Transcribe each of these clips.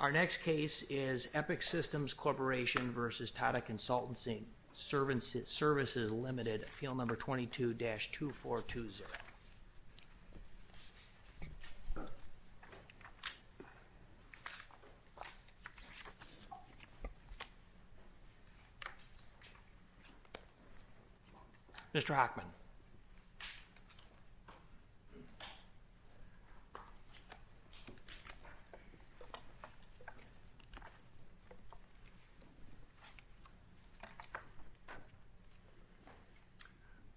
Our next case is Epic Systems Corporation v. Tata Consultancy Services Ltd. Appeal Number 22-2420 Mr. Hockman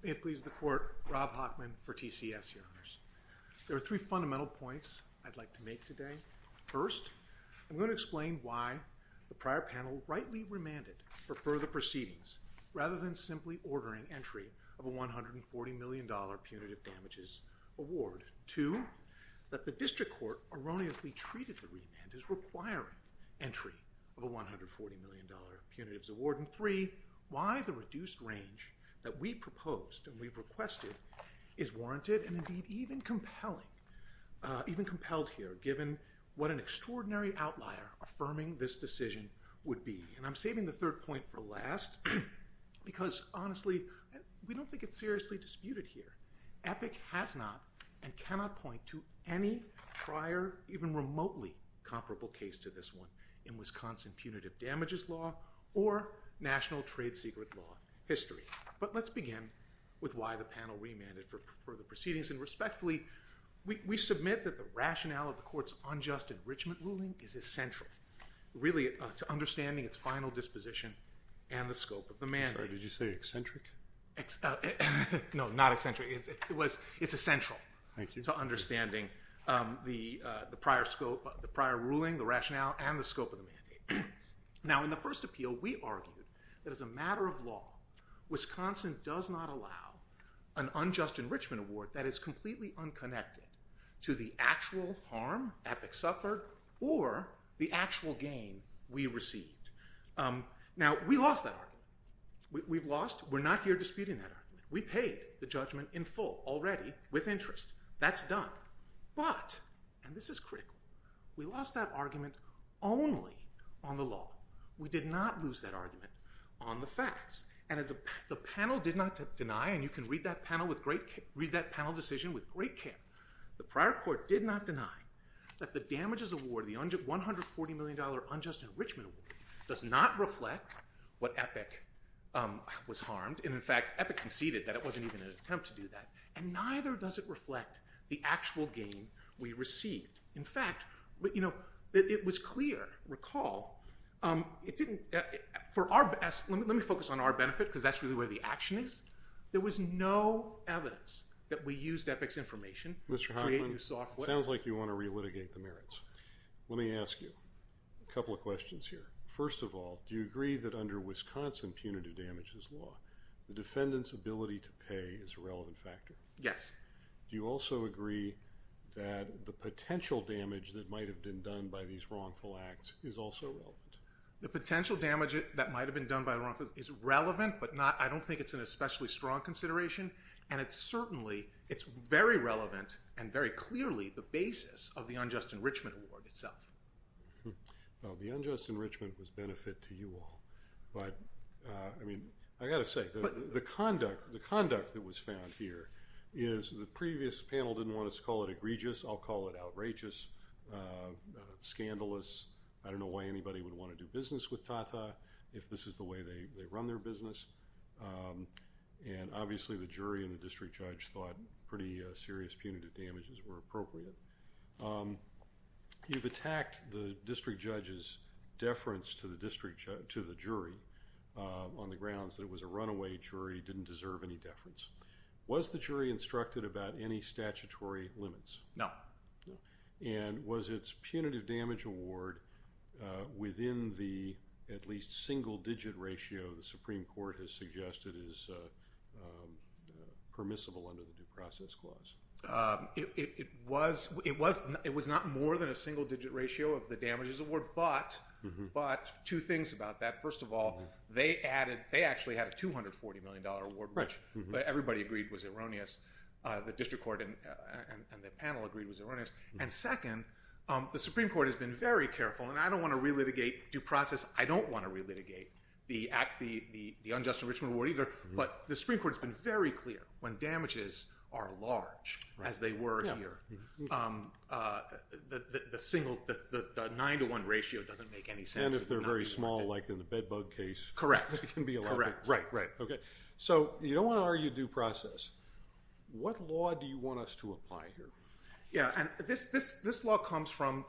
May it please the Court, Rob Hockman for TCS, Your Honors. There are three fundamental points I'd like to make today. First, I'm going to explain why the prior panel rightly remanded for further proceedings, rather than simply ordering entry of a $140 million punitive damages award. Two, that the District Court erroneously treated the remand as requiring entry of a $140 million punitive damages award. And three, why the reduced range that we proposed and we've requested is warranted, and indeed even compelled here, given what an extraordinary outlier affirming this decision would be. And I'm saving the third point for last, because honestly, we don't think it's seriously disputed here. Epic has not and cannot point to any prior, even remotely comparable case to this one in Wisconsin punitive damages law or national trade secret law history. But let's begin with why the panel remanded for further proceedings. And respectfully, we submit that the rationale of the Court's unjust enrichment ruling is essential, really to understanding its final disposition and the scope of the mandate. Sorry, did you say eccentric? No, not eccentric. It's essential to understanding the prior ruling, the rationale, and the scope of the mandate. Now, in the first appeal, we argued that as a matter of law, Wisconsin does not allow an unjust enrichment award that is completely unconnected to the actual harm Epic suffered or the actual gain we received. Now, we lost that argument. We've lost, we're not here disputing that argument. We paid the judgment in full already with interest. That's done. But, and this is critical, we lost that argument only on the law. We did not lose that argument on the facts. And as the panel did not deny, and you can read that panel decision with great care, the prior Court did not deny that the damages award, the $140 million unjust enrichment award, does not reflect what Epic was harmed. And, in fact, Epic conceded that it wasn't even an attempt to do that. And neither does it reflect the actual gain we received. In fact, you know, it was clear, recall, it didn't, for our best, let me focus on our benefit because that's really where the action is. There was no evidence that we used Epic's information to create new software. Mr. Hoffman, it sounds like you want to relitigate the merits. Let me ask you a couple of questions here. First of all, do you agree that under Wisconsin punitive damages law, the defendant's ability to pay is a relevant factor? Yes. Do you also agree that the potential damage that might have been done by these wrongful acts is also relevant? The potential damage that might have been done by the wrongful is relevant, but I don't think it's an especially strong consideration. And it's certainly, it's very relevant and very clearly the basis of the unjust enrichment award itself. Well, the unjust enrichment was benefit to you all. But, I mean, I got to say, the conduct that was found here is the previous panel didn't want us to call it egregious. I'll call it outrageous, scandalous. I don't know why anybody would want to do business with Tata if this is the way they run their business. And, obviously, the jury and the district judge thought pretty serious punitive damages were appropriate. You've attacked the district judge's deference to the jury on the grounds that it was a runaway jury, didn't deserve any deference. Was the jury instructed about any statutory limits? No. And was its punitive damage award within the at least single-digit ratio the Supreme Court has suggested is permissible under the Due Process Clause? It was not more than a single-digit ratio of the damages award, but two things about that. First of all, they actually had a $240 million award, which everybody agreed was erroneous. The district court and the panel agreed it was erroneous. And, second, the Supreme Court has been very careful. And I don't want to relitigate due process. I don't want to relitigate the unjust enrichment award either. But the Supreme Court has been very clear. When damages are large, as they were here, the 9-to-1 ratio doesn't make any sense. And if they're very small, like in the bed bug case. Correct. Right, right. So you don't want to argue due process. What law do you want us to apply here? Yeah, and this law comes from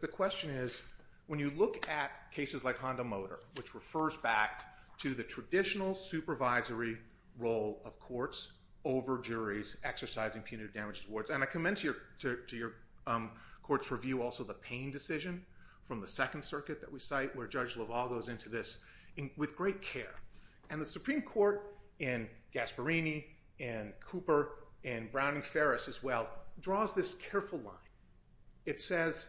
the question is when you look at cases like Honda Motor, which refers back to the traditional supervisory role of courts over juries exercising punitive damage awards. And I commend to your court's review also the Payne decision from the Second Circuit that we cite, where Judge LaValle goes into this with great care. And the Supreme Court, in Gasparini, in Cooper, in Brown and Ferris as well, draws this careful line. It says,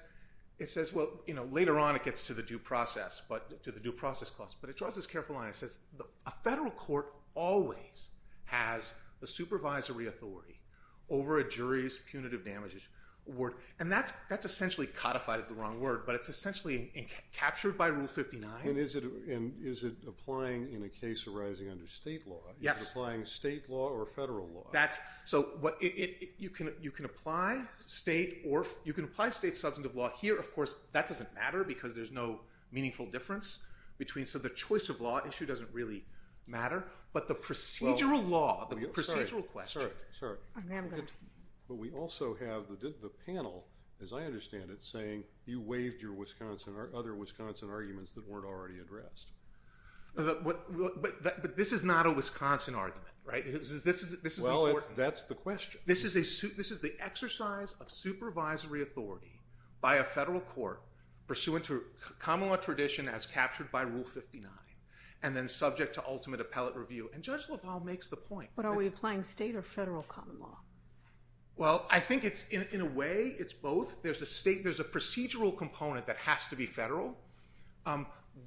well, later on it gets to the due process clause. But it draws this careful line. It says a federal court always has the supervisory authority over a jury's punitive damages award. And that's essentially codified as the wrong word. But it's essentially captured by Rule 59. And is it applying in a case arising under state law? Yes. Is it applying state law or federal law? You can apply state substantive law here. Of course, that doesn't matter because there's no meaningful difference. So the choice of law issue doesn't really matter. But the procedural law, the procedural question. But we also have the panel, as I understand it, saying you waived your other Wisconsin arguments that weren't already addressed. But this is not a Wisconsin argument, right? Well, that's the question. This is the exercise of supervisory authority by a federal court pursuant to common law tradition as captured by Rule 59 and then subject to ultimate appellate review. And Judge LaValle makes the point. But are we applying state or federal common law? Well, I think it's in a way it's both. There's a procedural component that has to be federal.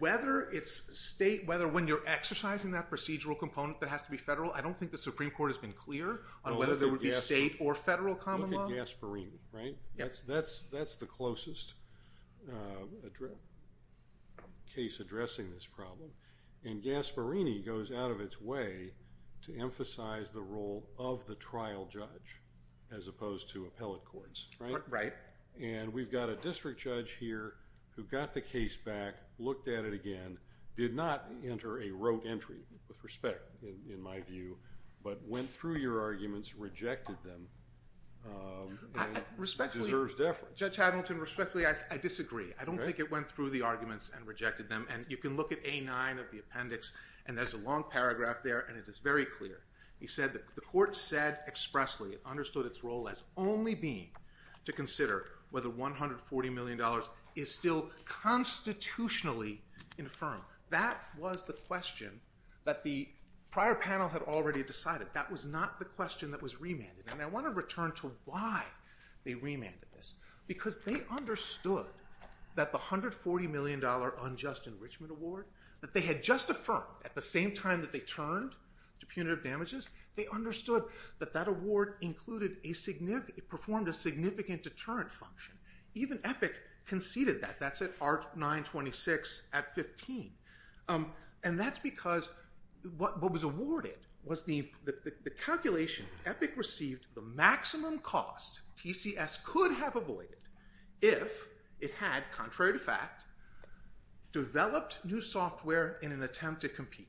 Whether it's state, whether when you're exercising that procedural component that has to be federal, I don't think the Supreme Court has been clear on whether there would be state or federal common law. Look at Gasparini, right? That's the closest case addressing this problem. And Gasparini goes out of its way to emphasize the role of the trial judge as opposed to appellate courts, right? Right. And we've got a district judge here who got the case back, looked at it again, did not enter a rote entry with respect, in my view, but went through your arguments, rejected them, and deserves deference. Respectfully, Judge Hamilton, respectfully, I disagree. I don't think it went through the arguments and rejected them. And you can look at A9 of the appendix, and there's a long paragraph there, and it is very clear. He said the court said expressly, understood its role as only being to consider whether $140 million is still constitutionally infirm. That was the question that the prior panel had already decided. That was not the question that was remanded. And I want to return to why they remanded this, because they understood that the $140 million unjust enrichment award that they had just affirmed at the same time that they turned to punitive damages, they understood that that award performed a significant deterrent function. Even Epic conceded that. That's at R926 at 15. And that's because what was awarded was the calculation. Epic received the maximum cost TCS could have avoided if it had, contrary to fact, developed new software in an attempt to compete.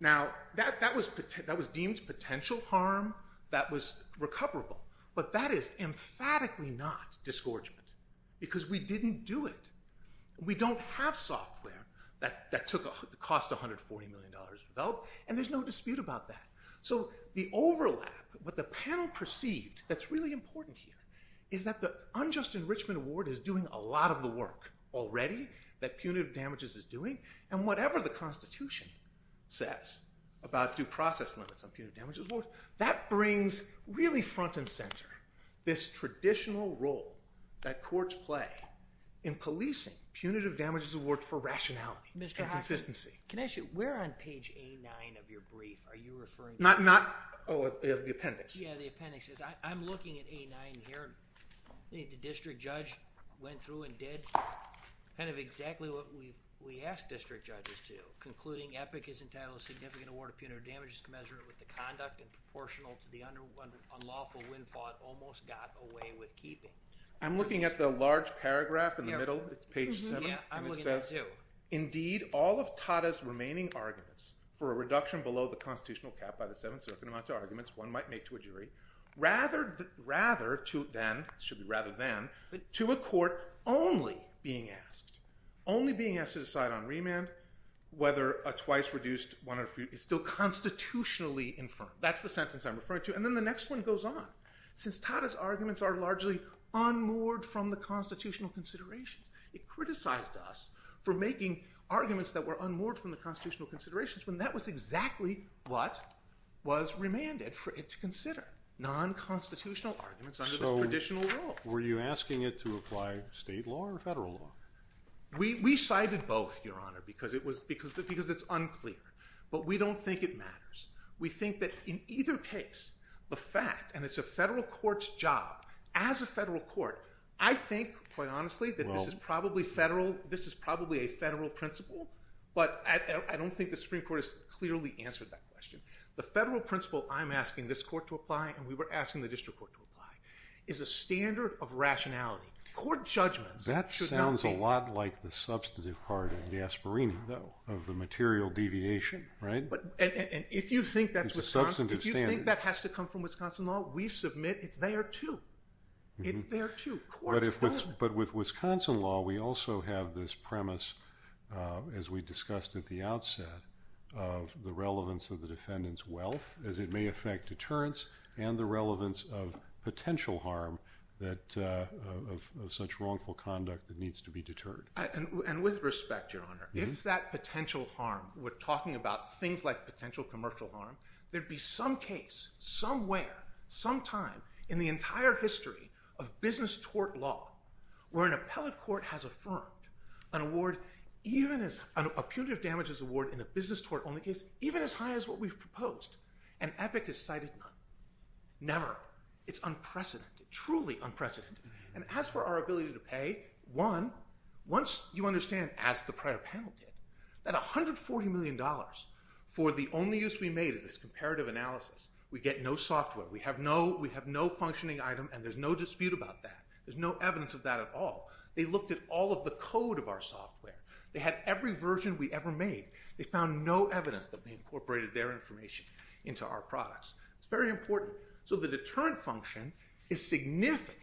Now, that was deemed potential harm. That was recoverable. But that is emphatically not disgorgement, because we didn't do it. We don't have software that cost $140 million to develop, and there's no dispute about that. So the overlap, what the panel perceived that's really important here, is that the unjust enrichment award is doing a lot of the work already that punitive damages is doing. And whatever the Constitution says about due process limits on punitive damages, that brings really front and center this traditional role that courts play in policing punitive damages awards for rationality and consistency. Can I ask you, where on page A9 of your brief are you referring to? Not, oh, the appendix. Yeah, the appendix. I'm looking at A9 here. The district judge went through and did kind of exactly what we asked district judges to, concluding EPIC is entitled to significant award of punitive damages commensurate with the conduct and proportional to the unlawful windfall it almost got away with keeping. I'm looking at the large paragraph in the middle. It's page 7. Yeah, I'm looking at it, too. Indeed, all of Tata's remaining arguments for a reduction below the constitutional cap by the Seventh Circuit amount to arguments one might make to a jury rather to then, should be rather than, to a court only being asked, only being asked to decide on remand whether a twice reduced one or few is still constitutionally infirm. That's the sentence I'm referring to. And then the next one goes on. Since Tata's arguments are largely unmoored from the constitutional considerations, it criticized us for making arguments that were unmoored from the constitutional considerations when that was exactly what was remanded for it to consider, nonconstitutional arguments under the traditional rule. Were you asking it to apply state law or federal law? We cited both, Your Honor, because it's unclear. But we don't think it matters. We think that in either case, the fact, and it's a federal court's job, as a federal court, I think, quite honestly, that this is probably a federal principle, but I don't think the Supreme Court has clearly answered that question. The federal principle I'm asking this court to apply and we were asking the district court to apply is a standard of rationality. Court judgments should not be. That sounds a lot like the substantive part of the aspirin of the material deviation, right? And if you think that has to come from Wisconsin law, we submit it's there too. It's there too. But with Wisconsin law, we also have this premise, as we discussed at the outset, of the relevance of the defendant's wealth as it may affect deterrence and the relevance of potential harm of such wrongful conduct that needs to be deterred. And with respect, Your Honor, if that potential harm, we're talking about things like potential commercial harm, there'd be some case, somewhere, sometime in the entire history of business tort law where an appellate court has affirmed an award, a punitive damages award in a business tort only case, even as high as what we've proposed. And Epic has cited none, never. It's unprecedented, truly unprecedented. And as for our ability to pay, one, once you understand, as the prior panel did, that $140 million for the only use we made is this comparative analysis. We get no software. We have no functioning item, and there's no dispute about that. There's no evidence of that at all. They looked at all of the code of our software. They had every version we ever made. They found no evidence that we incorporated their information into our products. It's very important. So the deterrent function is significant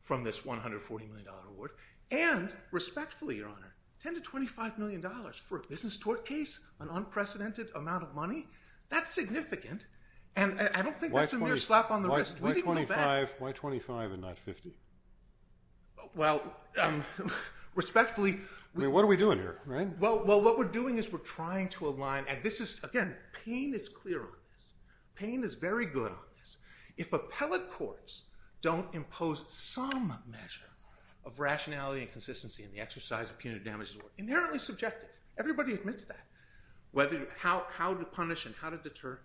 from this $140 million award, and respectfully, Your Honor, $10 to $25 million for a business tort case, an unprecedented amount of money, that's significant, and I don't think that's a mere slap on the wrist. We didn't go back. Why 25 and not 50? Well, respectfully. I mean, what are we doing here, right? Well, what we're doing is we're trying to align, and this is, again, pain is clear on this. Pain is very good on this. If appellate courts don't impose some measure of rationality and consistency in the exercise of punitive damages, we're inherently subjective. Everybody admits that. How to punish and how to deter.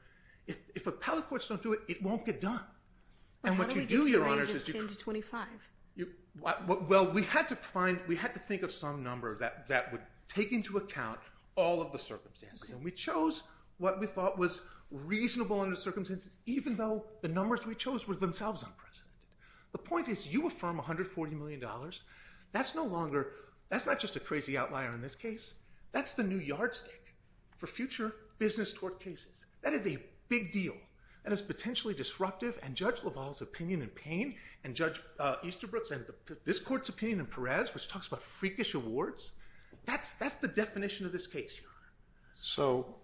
If appellate courts don't do it, it won't get done. And what you do, Your Honor, is you could. How do we get to the range of 10 to 25? Well, we had to think of some number that would take into account all of the circumstances, and we chose what we thought was reasonable under the circumstances, even though the numbers we chose were themselves unprecedented. The point is you affirm $140 million. That's not just a crazy outlier in this case. That's the new yardstick for future business tort cases. That is a big deal, and it's potentially disruptive, and Judge LaValle's opinion in Payne and Judge Easterbrook's and this court's opinion in Perez, which talks about freakish awards, that's the definition of this case, Your Honor. So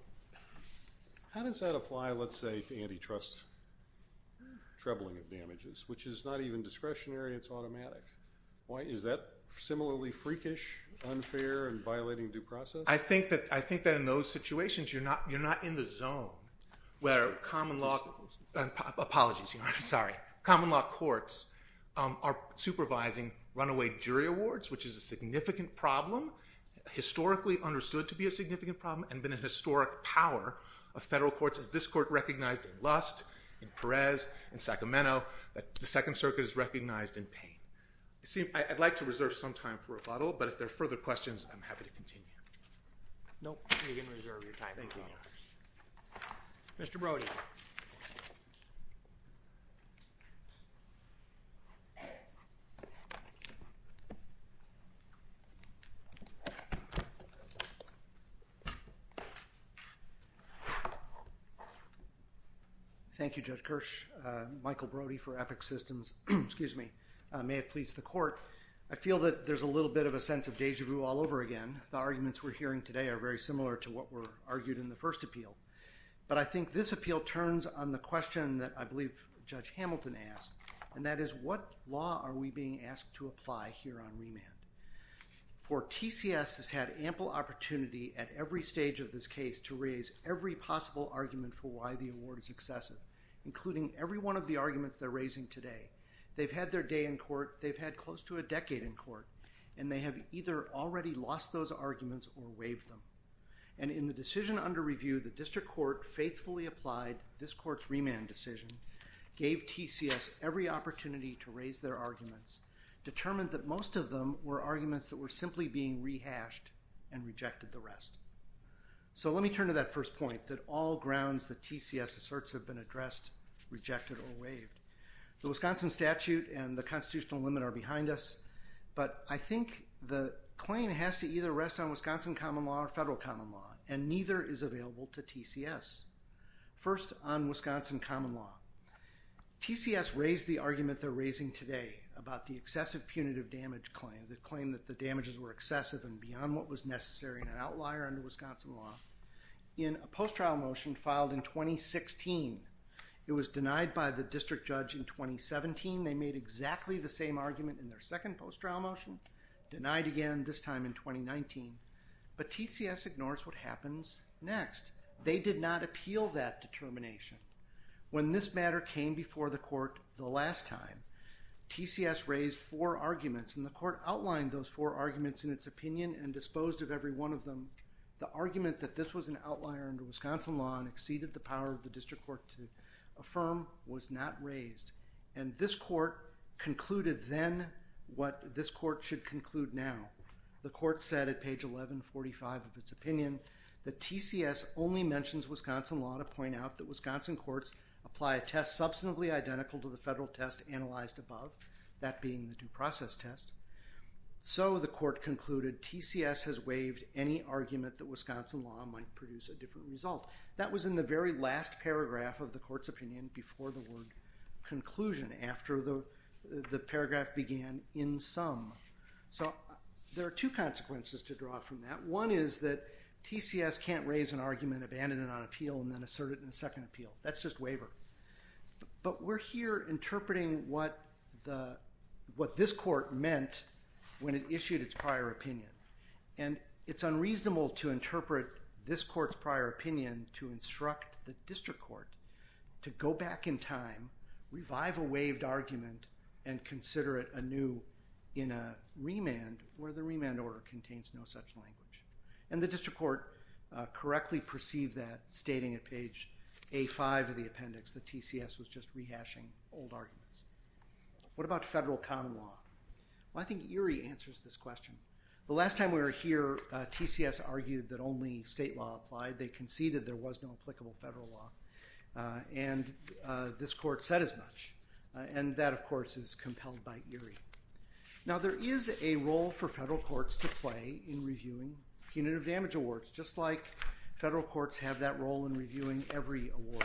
how does that apply, let's say, to antitrust? Trebling of damages, which is not even discretionary. It's automatic. Is that similarly freakish, unfair, and violating due process? I think that in those situations you're not in the zone where common law courts are supervising runaway jury awards, which is a significant problem, historically understood to be a significant problem, and been a historic power of federal courts, as this court recognized in Lust, in Perez, in Sacramento, that the Second Circuit is recognized in Payne. I'd like to reserve some time for rebuttal, but if there are further questions, I'm happy to continue. No, you can reserve your time for rebuttal. Thank you, Your Honor. Mr. Brody. Thank you, Judge Kirsch. Michael Brody for Ethics Systems. May it please the court, I feel that there's a little bit of a sense of déjà vu all over again. The arguments we're hearing today are very similar to what were argued in the first appeal. But I think this appeal turns on the question that I believe Judge Hamilton asked, and that is what law are we being asked to apply here on remand? For TCS has had ample opportunity at every stage of this case to raise every possible argument for why the award is excessive, including every one of the arguments they're raising today. They've had their day in court, they've had close to a decade in court, and they have either already lost those arguments or waived them. And in the decision under review, the district court faithfully applied this court's remand decision, gave TCS every opportunity to raise their arguments, determined that most of them were arguments that were simply being rehashed and rejected the rest. So let me turn to that first point, that all grounds that TCS asserts have been addressed, rejected, or waived. The Wisconsin statute and the constitutional limit are behind us, but I think the claim has to either rest on Wisconsin common law or federal common law, and neither is available to TCS. First, on Wisconsin common law. TCS raised the argument they're raising today about the excessive punitive damage claim, the claim that the damages were excessive and beyond what was necessary in an outlier under Wisconsin law, in a post-trial motion filed in 2016. It was denied by the district judge in 2017. They made exactly the same argument in their second post-trial motion, denied again this time in 2019. But TCS ignores what happens next. They did not appeal that determination. When this matter came before the court the last time, TCS raised four arguments, and the court outlined those four arguments in its opinion and disposed of every one of them. The argument that this was an outlier under Wisconsin law and exceeded the power of the district court to affirm was not raised, and this court concluded then what this court should conclude now. The court said at page 1145 of its opinion that that being the due process test. So the court concluded TCS has waived any argument that Wisconsin law might produce a different result. That was in the very last paragraph of the court's opinion before the word conclusion, after the paragraph began, in sum. So there are two consequences to draw from that. One is that TCS can't raise an argument, abandon it on appeal, and then assert it in a second appeal. That's just waiver. But we're here interpreting what this court meant when it issued its prior opinion, and it's unreasonable to interpret this court's prior opinion to instruct the district court to go back in time, revive a waived argument, and consider it anew in a remand where the remand order contains no such language. And the district court correctly perceived that, stating at page A5 of the appendix that TCS was just rehashing old arguments. What about federal common law? Well, I think Erie answers this question. The last time we were here, TCS argued that only state law applied. They conceded there was no applicable federal law, and this court said as much. And that, of course, is compelled by Erie. Now, there is a role for federal courts to play in reviewing punitive damage awards, just like federal courts have that role in reviewing every award.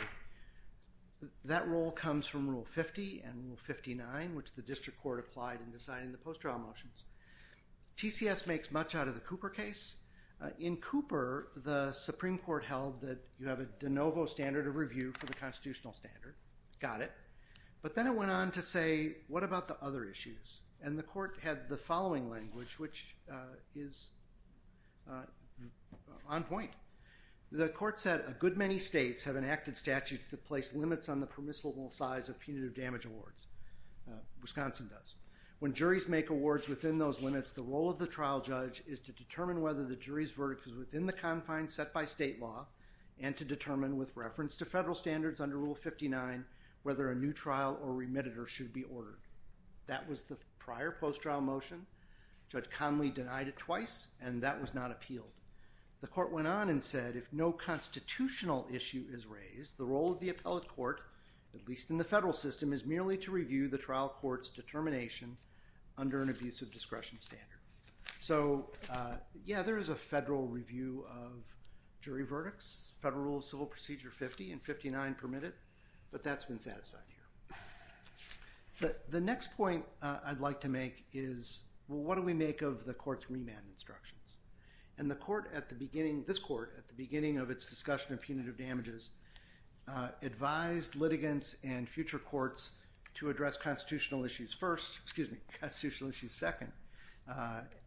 That role comes from Rule 50 and Rule 59, which the district court applied in deciding the post-trial motions. TCS makes much out of the Cooper case. In Cooper, the Supreme Court held that you have a de novo standard of review for the constitutional standard. Got it. But then it went on to say, what about the other issues? And the court had the following language, which is on point. The court said, a good many states have enacted statutes that place limits on the permissible size of punitive damage awards. Wisconsin does. When juries make awards within those limits, the role of the trial judge is to determine whether the jury's verdict is within the confines set by state law and to determine, with reference to federal standards under Rule 59, whether a new trial or remitted or should be ordered. That was the prior post-trial motion. Judge Conley denied it twice, and that was not appealed. The court went on and said, if no constitutional issue is raised, the role of the appellate court, at least in the federal system, is merely to review the trial court's determination under an abusive discretion standard. So yeah, there is a federal review of jury verdicts. Federal Rule of Civil Procedure 50 and 59 permit it. But that's been satisfied here. But the next point I'd like to make is, well, what do we make of the court's remand instructions? And this court, at the beginning of its discussion of punitive damages, advised litigants and future courts to address constitutional issues second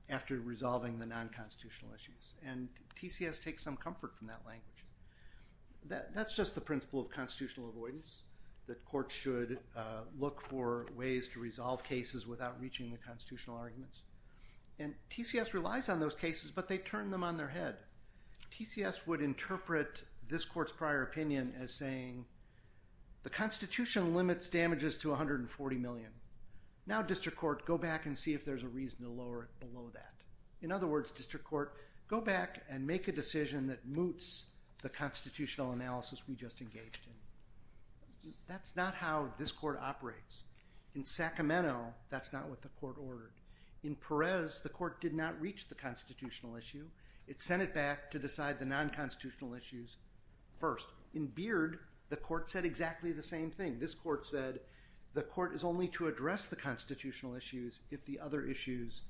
after resolving the non-constitutional issues. And TCS takes some comfort from that language. That's just the principle of constitutional avoidance, that courts should look for ways to resolve cases without reaching the constitutional arguments. And TCS relies on those cases, but they turn them on their head. TCS would interpret this court's prior opinion as saying, the Constitution limits damages to $140 million. Now, district court, go back and see if there's a reason to lower it below that. In other words, district court, go back and make a decision that moots the constitutional analysis we just engaged in. That's not how this court operates. In Sacramento, that's not what the court ordered. In Perez, the court did not reach the constitutional issue. It sent it back to decide the non-constitutional issues first. In Beard, the court said exactly the same thing. This court said, the court is only to address the constitutional issues if the other issues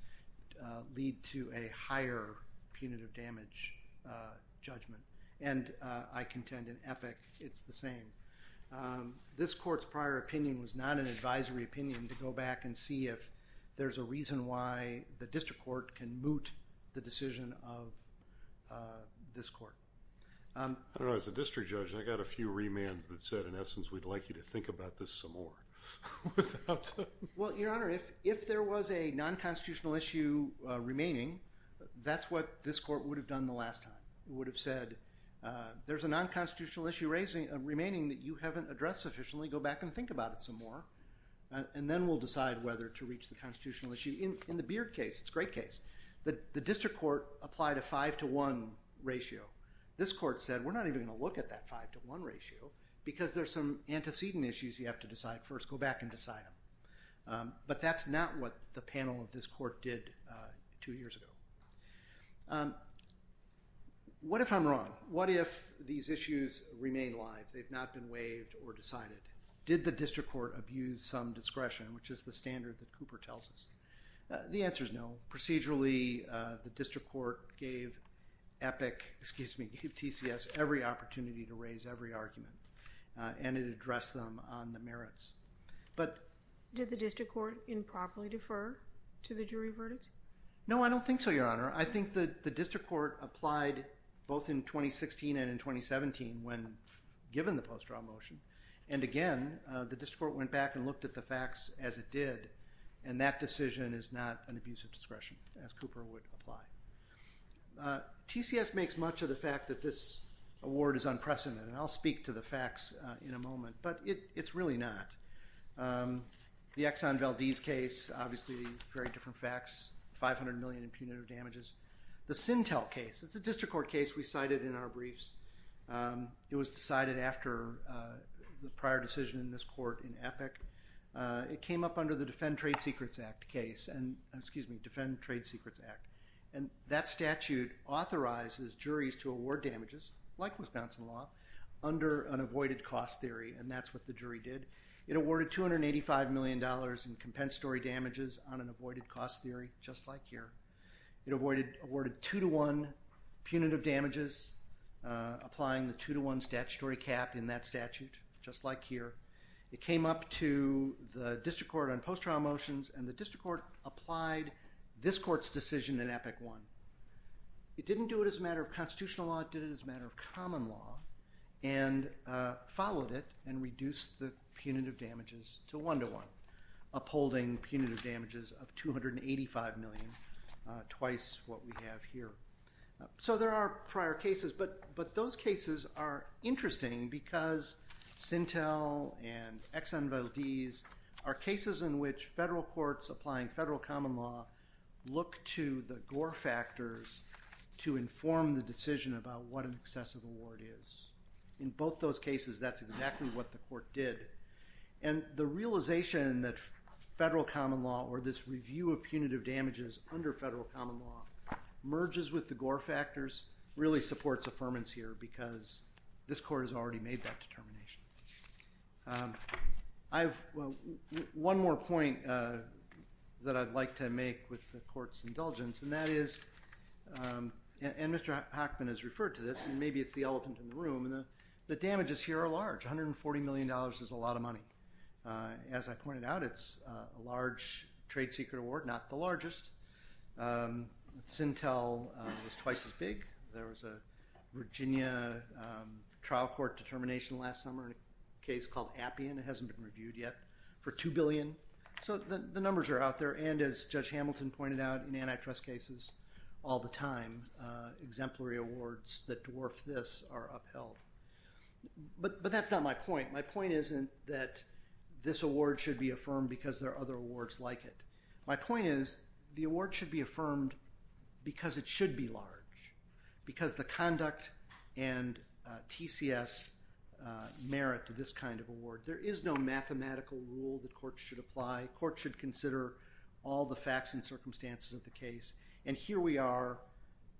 lead to a higher punitive damage judgment. And I contend in Epic, it's the same. This court's prior opinion was not an advisory opinion to go back and see if there's a reason why the district court can moot the decision of this court. I don't know, as a district judge, I got a few remands that said, in essence, we'd like you to think about this some more. Well, Your Honor, if there was a non-constitutional issue remaining, that's what this court would have done the last time. It would have said, there's a non-constitutional issue remaining that you haven't addressed sufficiently. Go back and think about it some more. And then we'll decide whether to reach the constitutional issue. In the Beard case, it's a great case, the district court applied a 5 to 1 ratio. This court said, we're not even going to look at that 5 to 1 ratio because there's some antecedent issues you have to decide first. Go back and decide them. But that's not what the panel of this court did two years ago. What if I'm wrong? What if these issues remain live? They've not been waived or decided. Did the district court abuse some discretion, which is the standard that Cooper tells us? The answer is no. Procedurally, the district court gave TCS every opportunity to raise every argument, and it addressed them on the merits. Did the district court improperly defer to the jury verdict? No, I don't think so, Your Honor. I think the district court applied both in 2016 and in 2017 when given the post-draw motion. And again, the district court went back and looked at the facts as it did, and that decision is not an abuse of discretion, as Cooper would apply. TCS makes much of the fact that this award is unprecedented, and I'll speak to the facts in a moment, but it's really not. The Exxon Valdez case, obviously very different facts, 500 million in punitive damages. The Sintel case, it's a district court case we cited in our briefs. It was decided after the prior decision in this court in Epic. It came up under the Defend Trade Secrets Act case, and that statute authorizes juries to award damages, like Wisconsin law, under an avoided cost theory, and that's what the jury did. It awarded $285 million in compensatory damages on an avoided cost theory, just like here. It awarded two-to-one punitive damages, applying the two-to-one statutory cap in that statute, just like here. It came up to the district court on post-trial motions, and the district court applied this court's decision in Epic I. It didn't do it as a matter of constitutional law. It did it as a matter of common law and followed it and reduced the punitive damages to one-to-one, upholding punitive damages of $285 million, twice what we have here. There are prior cases, but those cases are interesting because Sintel and Exxon Valdez are cases in which federal courts applying federal common law look to the Gore factors to inform the decision about what an excessive award is. In both those cases, that's exactly what the court did. The realization that federal common law, or this review of punitive damages under federal common law, merges with the Gore factors really supports affirmance here because this court has already made that determination. One more point that I'd like to make with the court's indulgence, and Mr. Hochman has referred to this, and maybe it's the elephant in the room, the damages here are large. $140 million is a lot of money. As I pointed out, it's a large trade secret award, not the largest. Sintel was twice as big. There was a Virginia trial court determination last summer in a case called Appian. It hasn't been reviewed yet, for $2 billion. The numbers are out there, and as Judge Hamilton pointed out in antitrust cases all the time, exemplary awards that dwarf this are upheld. But that's not my point. My point isn't that this award should be affirmed because there are other awards like it. My point is the award should be affirmed because it should be large, because the conduct and TCS merit to this kind of award. There is no mathematical rule that courts should apply. Courts should consider all the facts and circumstances of the case. And here we are,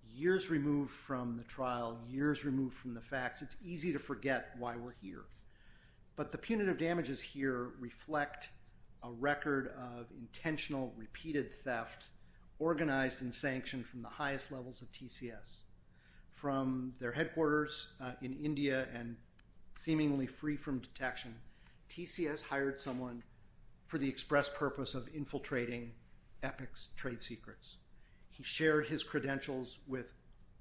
years removed from the trial, years removed from the facts. It's easy to forget why we're here. But the punitive damages here reflect a record of intentional, repeated theft organized and sanctioned from the highest levels of TCS. From their headquarters in India and seemingly free from detection, TCS hired someone for the express purpose of infiltrating Epic's trade secrets. He shared his credentials with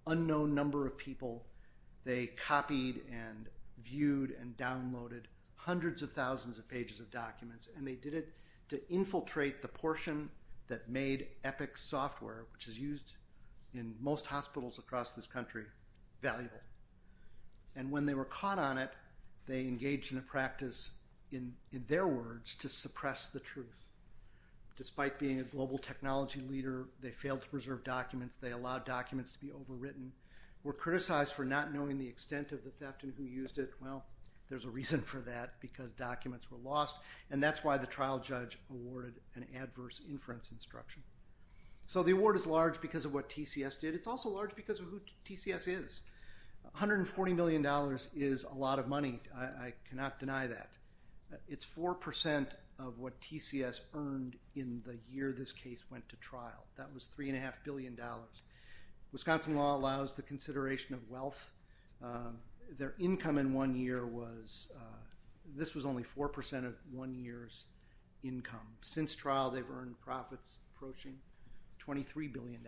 an unknown number of people. They copied and viewed and downloaded hundreds of thousands of pages of documents, and they did it to infiltrate the portion that made Epic's software, which is used in most hospitals across this country, valuable. And when they were caught on it, they engaged in a practice, in their words, to suppress the truth. Despite being a global technology leader, they failed to preserve documents, they allowed documents to be overwritten, were criticized for not knowing the extent of the theft and who used it. Well, there's a reason for that because documents were lost. And that's why the trial judge awarded an adverse inference instruction. So the award is large because of what TCS did. It's also large because of who TCS is. $140 million is a lot of money. I cannot deny that. It's 4% of what TCS earned in the year this case went to trial. That was $3.5 billion. Wisconsin law allows the consideration of wealth. Their income in one year was, this was only 4% of one year's income. Since trial, they've earned profits approaching $23 billion.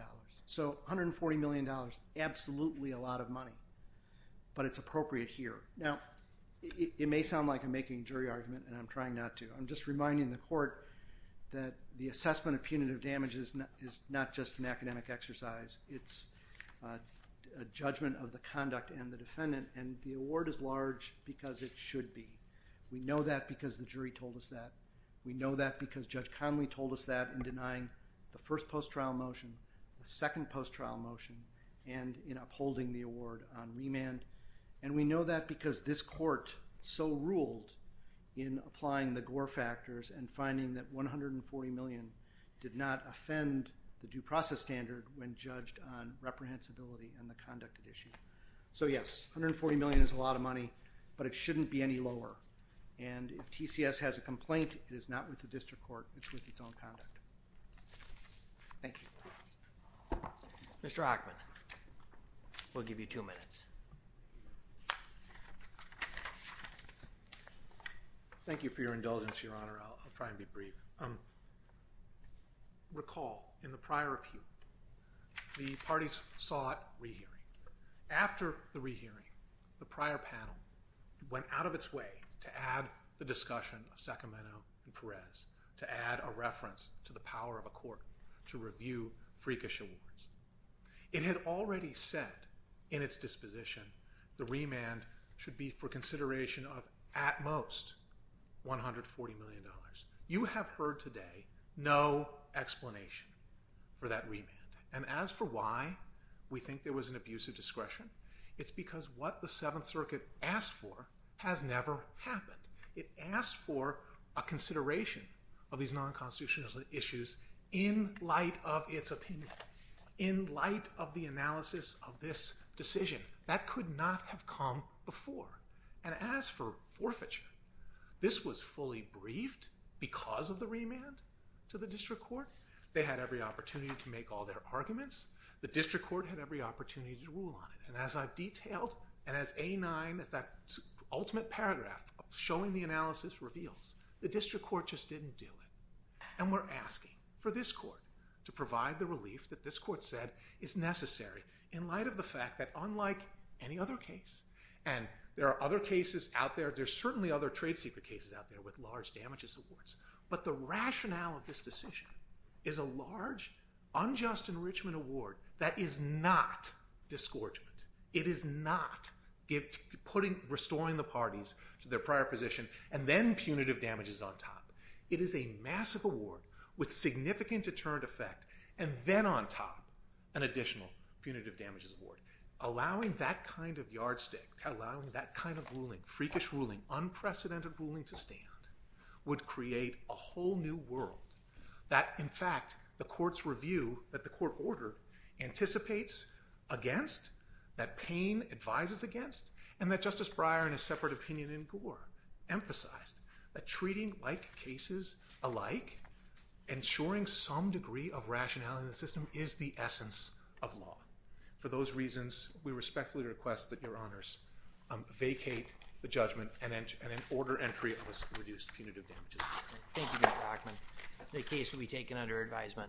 So $140 million, absolutely a lot of money. But it's appropriate here. Now, it may sound like I'm making a jury argument, and I'm trying not to. I'm just reminding the court that the assessment of punitive damage is not just an academic exercise. It's a judgment of the conduct and the defendant. And the award is large because it should be. We know that because the jury told us that. We know that because Judge Conley told us that in denying the first post-trial motion, the second post-trial motion, and in upholding the award on remand. And we know that because this court so ruled in applying the Gore factors and finding that $140 million did not offend the due process standard when judged on reprehensibility and the conduct at issue. So, yes, $140 million is a lot of money, but it shouldn't be any lower. And if TCS has a complaint, it is not with the district court. It's with its own conduct. Thank you. Mr. Hockman, we'll give you two minutes. Thank you for your indulgence, Your Honor. I'll try and be brief. Recall, in the prior appeal, the parties sought rehearing. After the rehearing, the prior panel went out of its way to add the discussion of Sacramento and Perez, to add a reference to the power of a court to review freakish awards. It had already said in its disposition the remand should be for consideration of at most $140 million. You have heard today no explanation for that remand. And as for why we think there was an abuse of discretion, it's because what the Seventh Circuit asked for has never happened. It asked for a consideration of these non-constitutional issues in light of its opinion, in light of the analysis of this decision. That could not have come before. And as for forfeiture, this was fully briefed because of the remand to the district court. They had every opportunity to make all their arguments. The district court had every opportunity to rule on it. And as I've detailed, and as A9, that ultimate paragraph showing the analysis, reveals, the district court just didn't do it. And we're asking for this court to provide the relief that this court said is necessary, in light of the fact that unlike any other case, and there are other cases out there, there are certainly other trade secret cases out there with large damages awards, but the rationale of this decision is a large, unjust enrichment award that is not disgorgement. It is not restoring the parties to their prior position and then punitive damages on top. It is a massive award with significant deterrent effect and then on top an additional punitive damages award. Allowing that kind of yardstick, allowing that kind of ruling, an unprecedented ruling to stand, would create a whole new world that, in fact, the court's review that the court ordered anticipates against, that Payne advises against, and that Justice Breyer, in a separate opinion in Gore, emphasized, that treating like cases alike, ensuring some degree of rationality in the system, is the essence of law. For those reasons, we respectfully request that Your Honors vacate the judgment and then order entry of this reduced punitive damages. Thank you, Mr. Ackman. The case will be taken under advisement.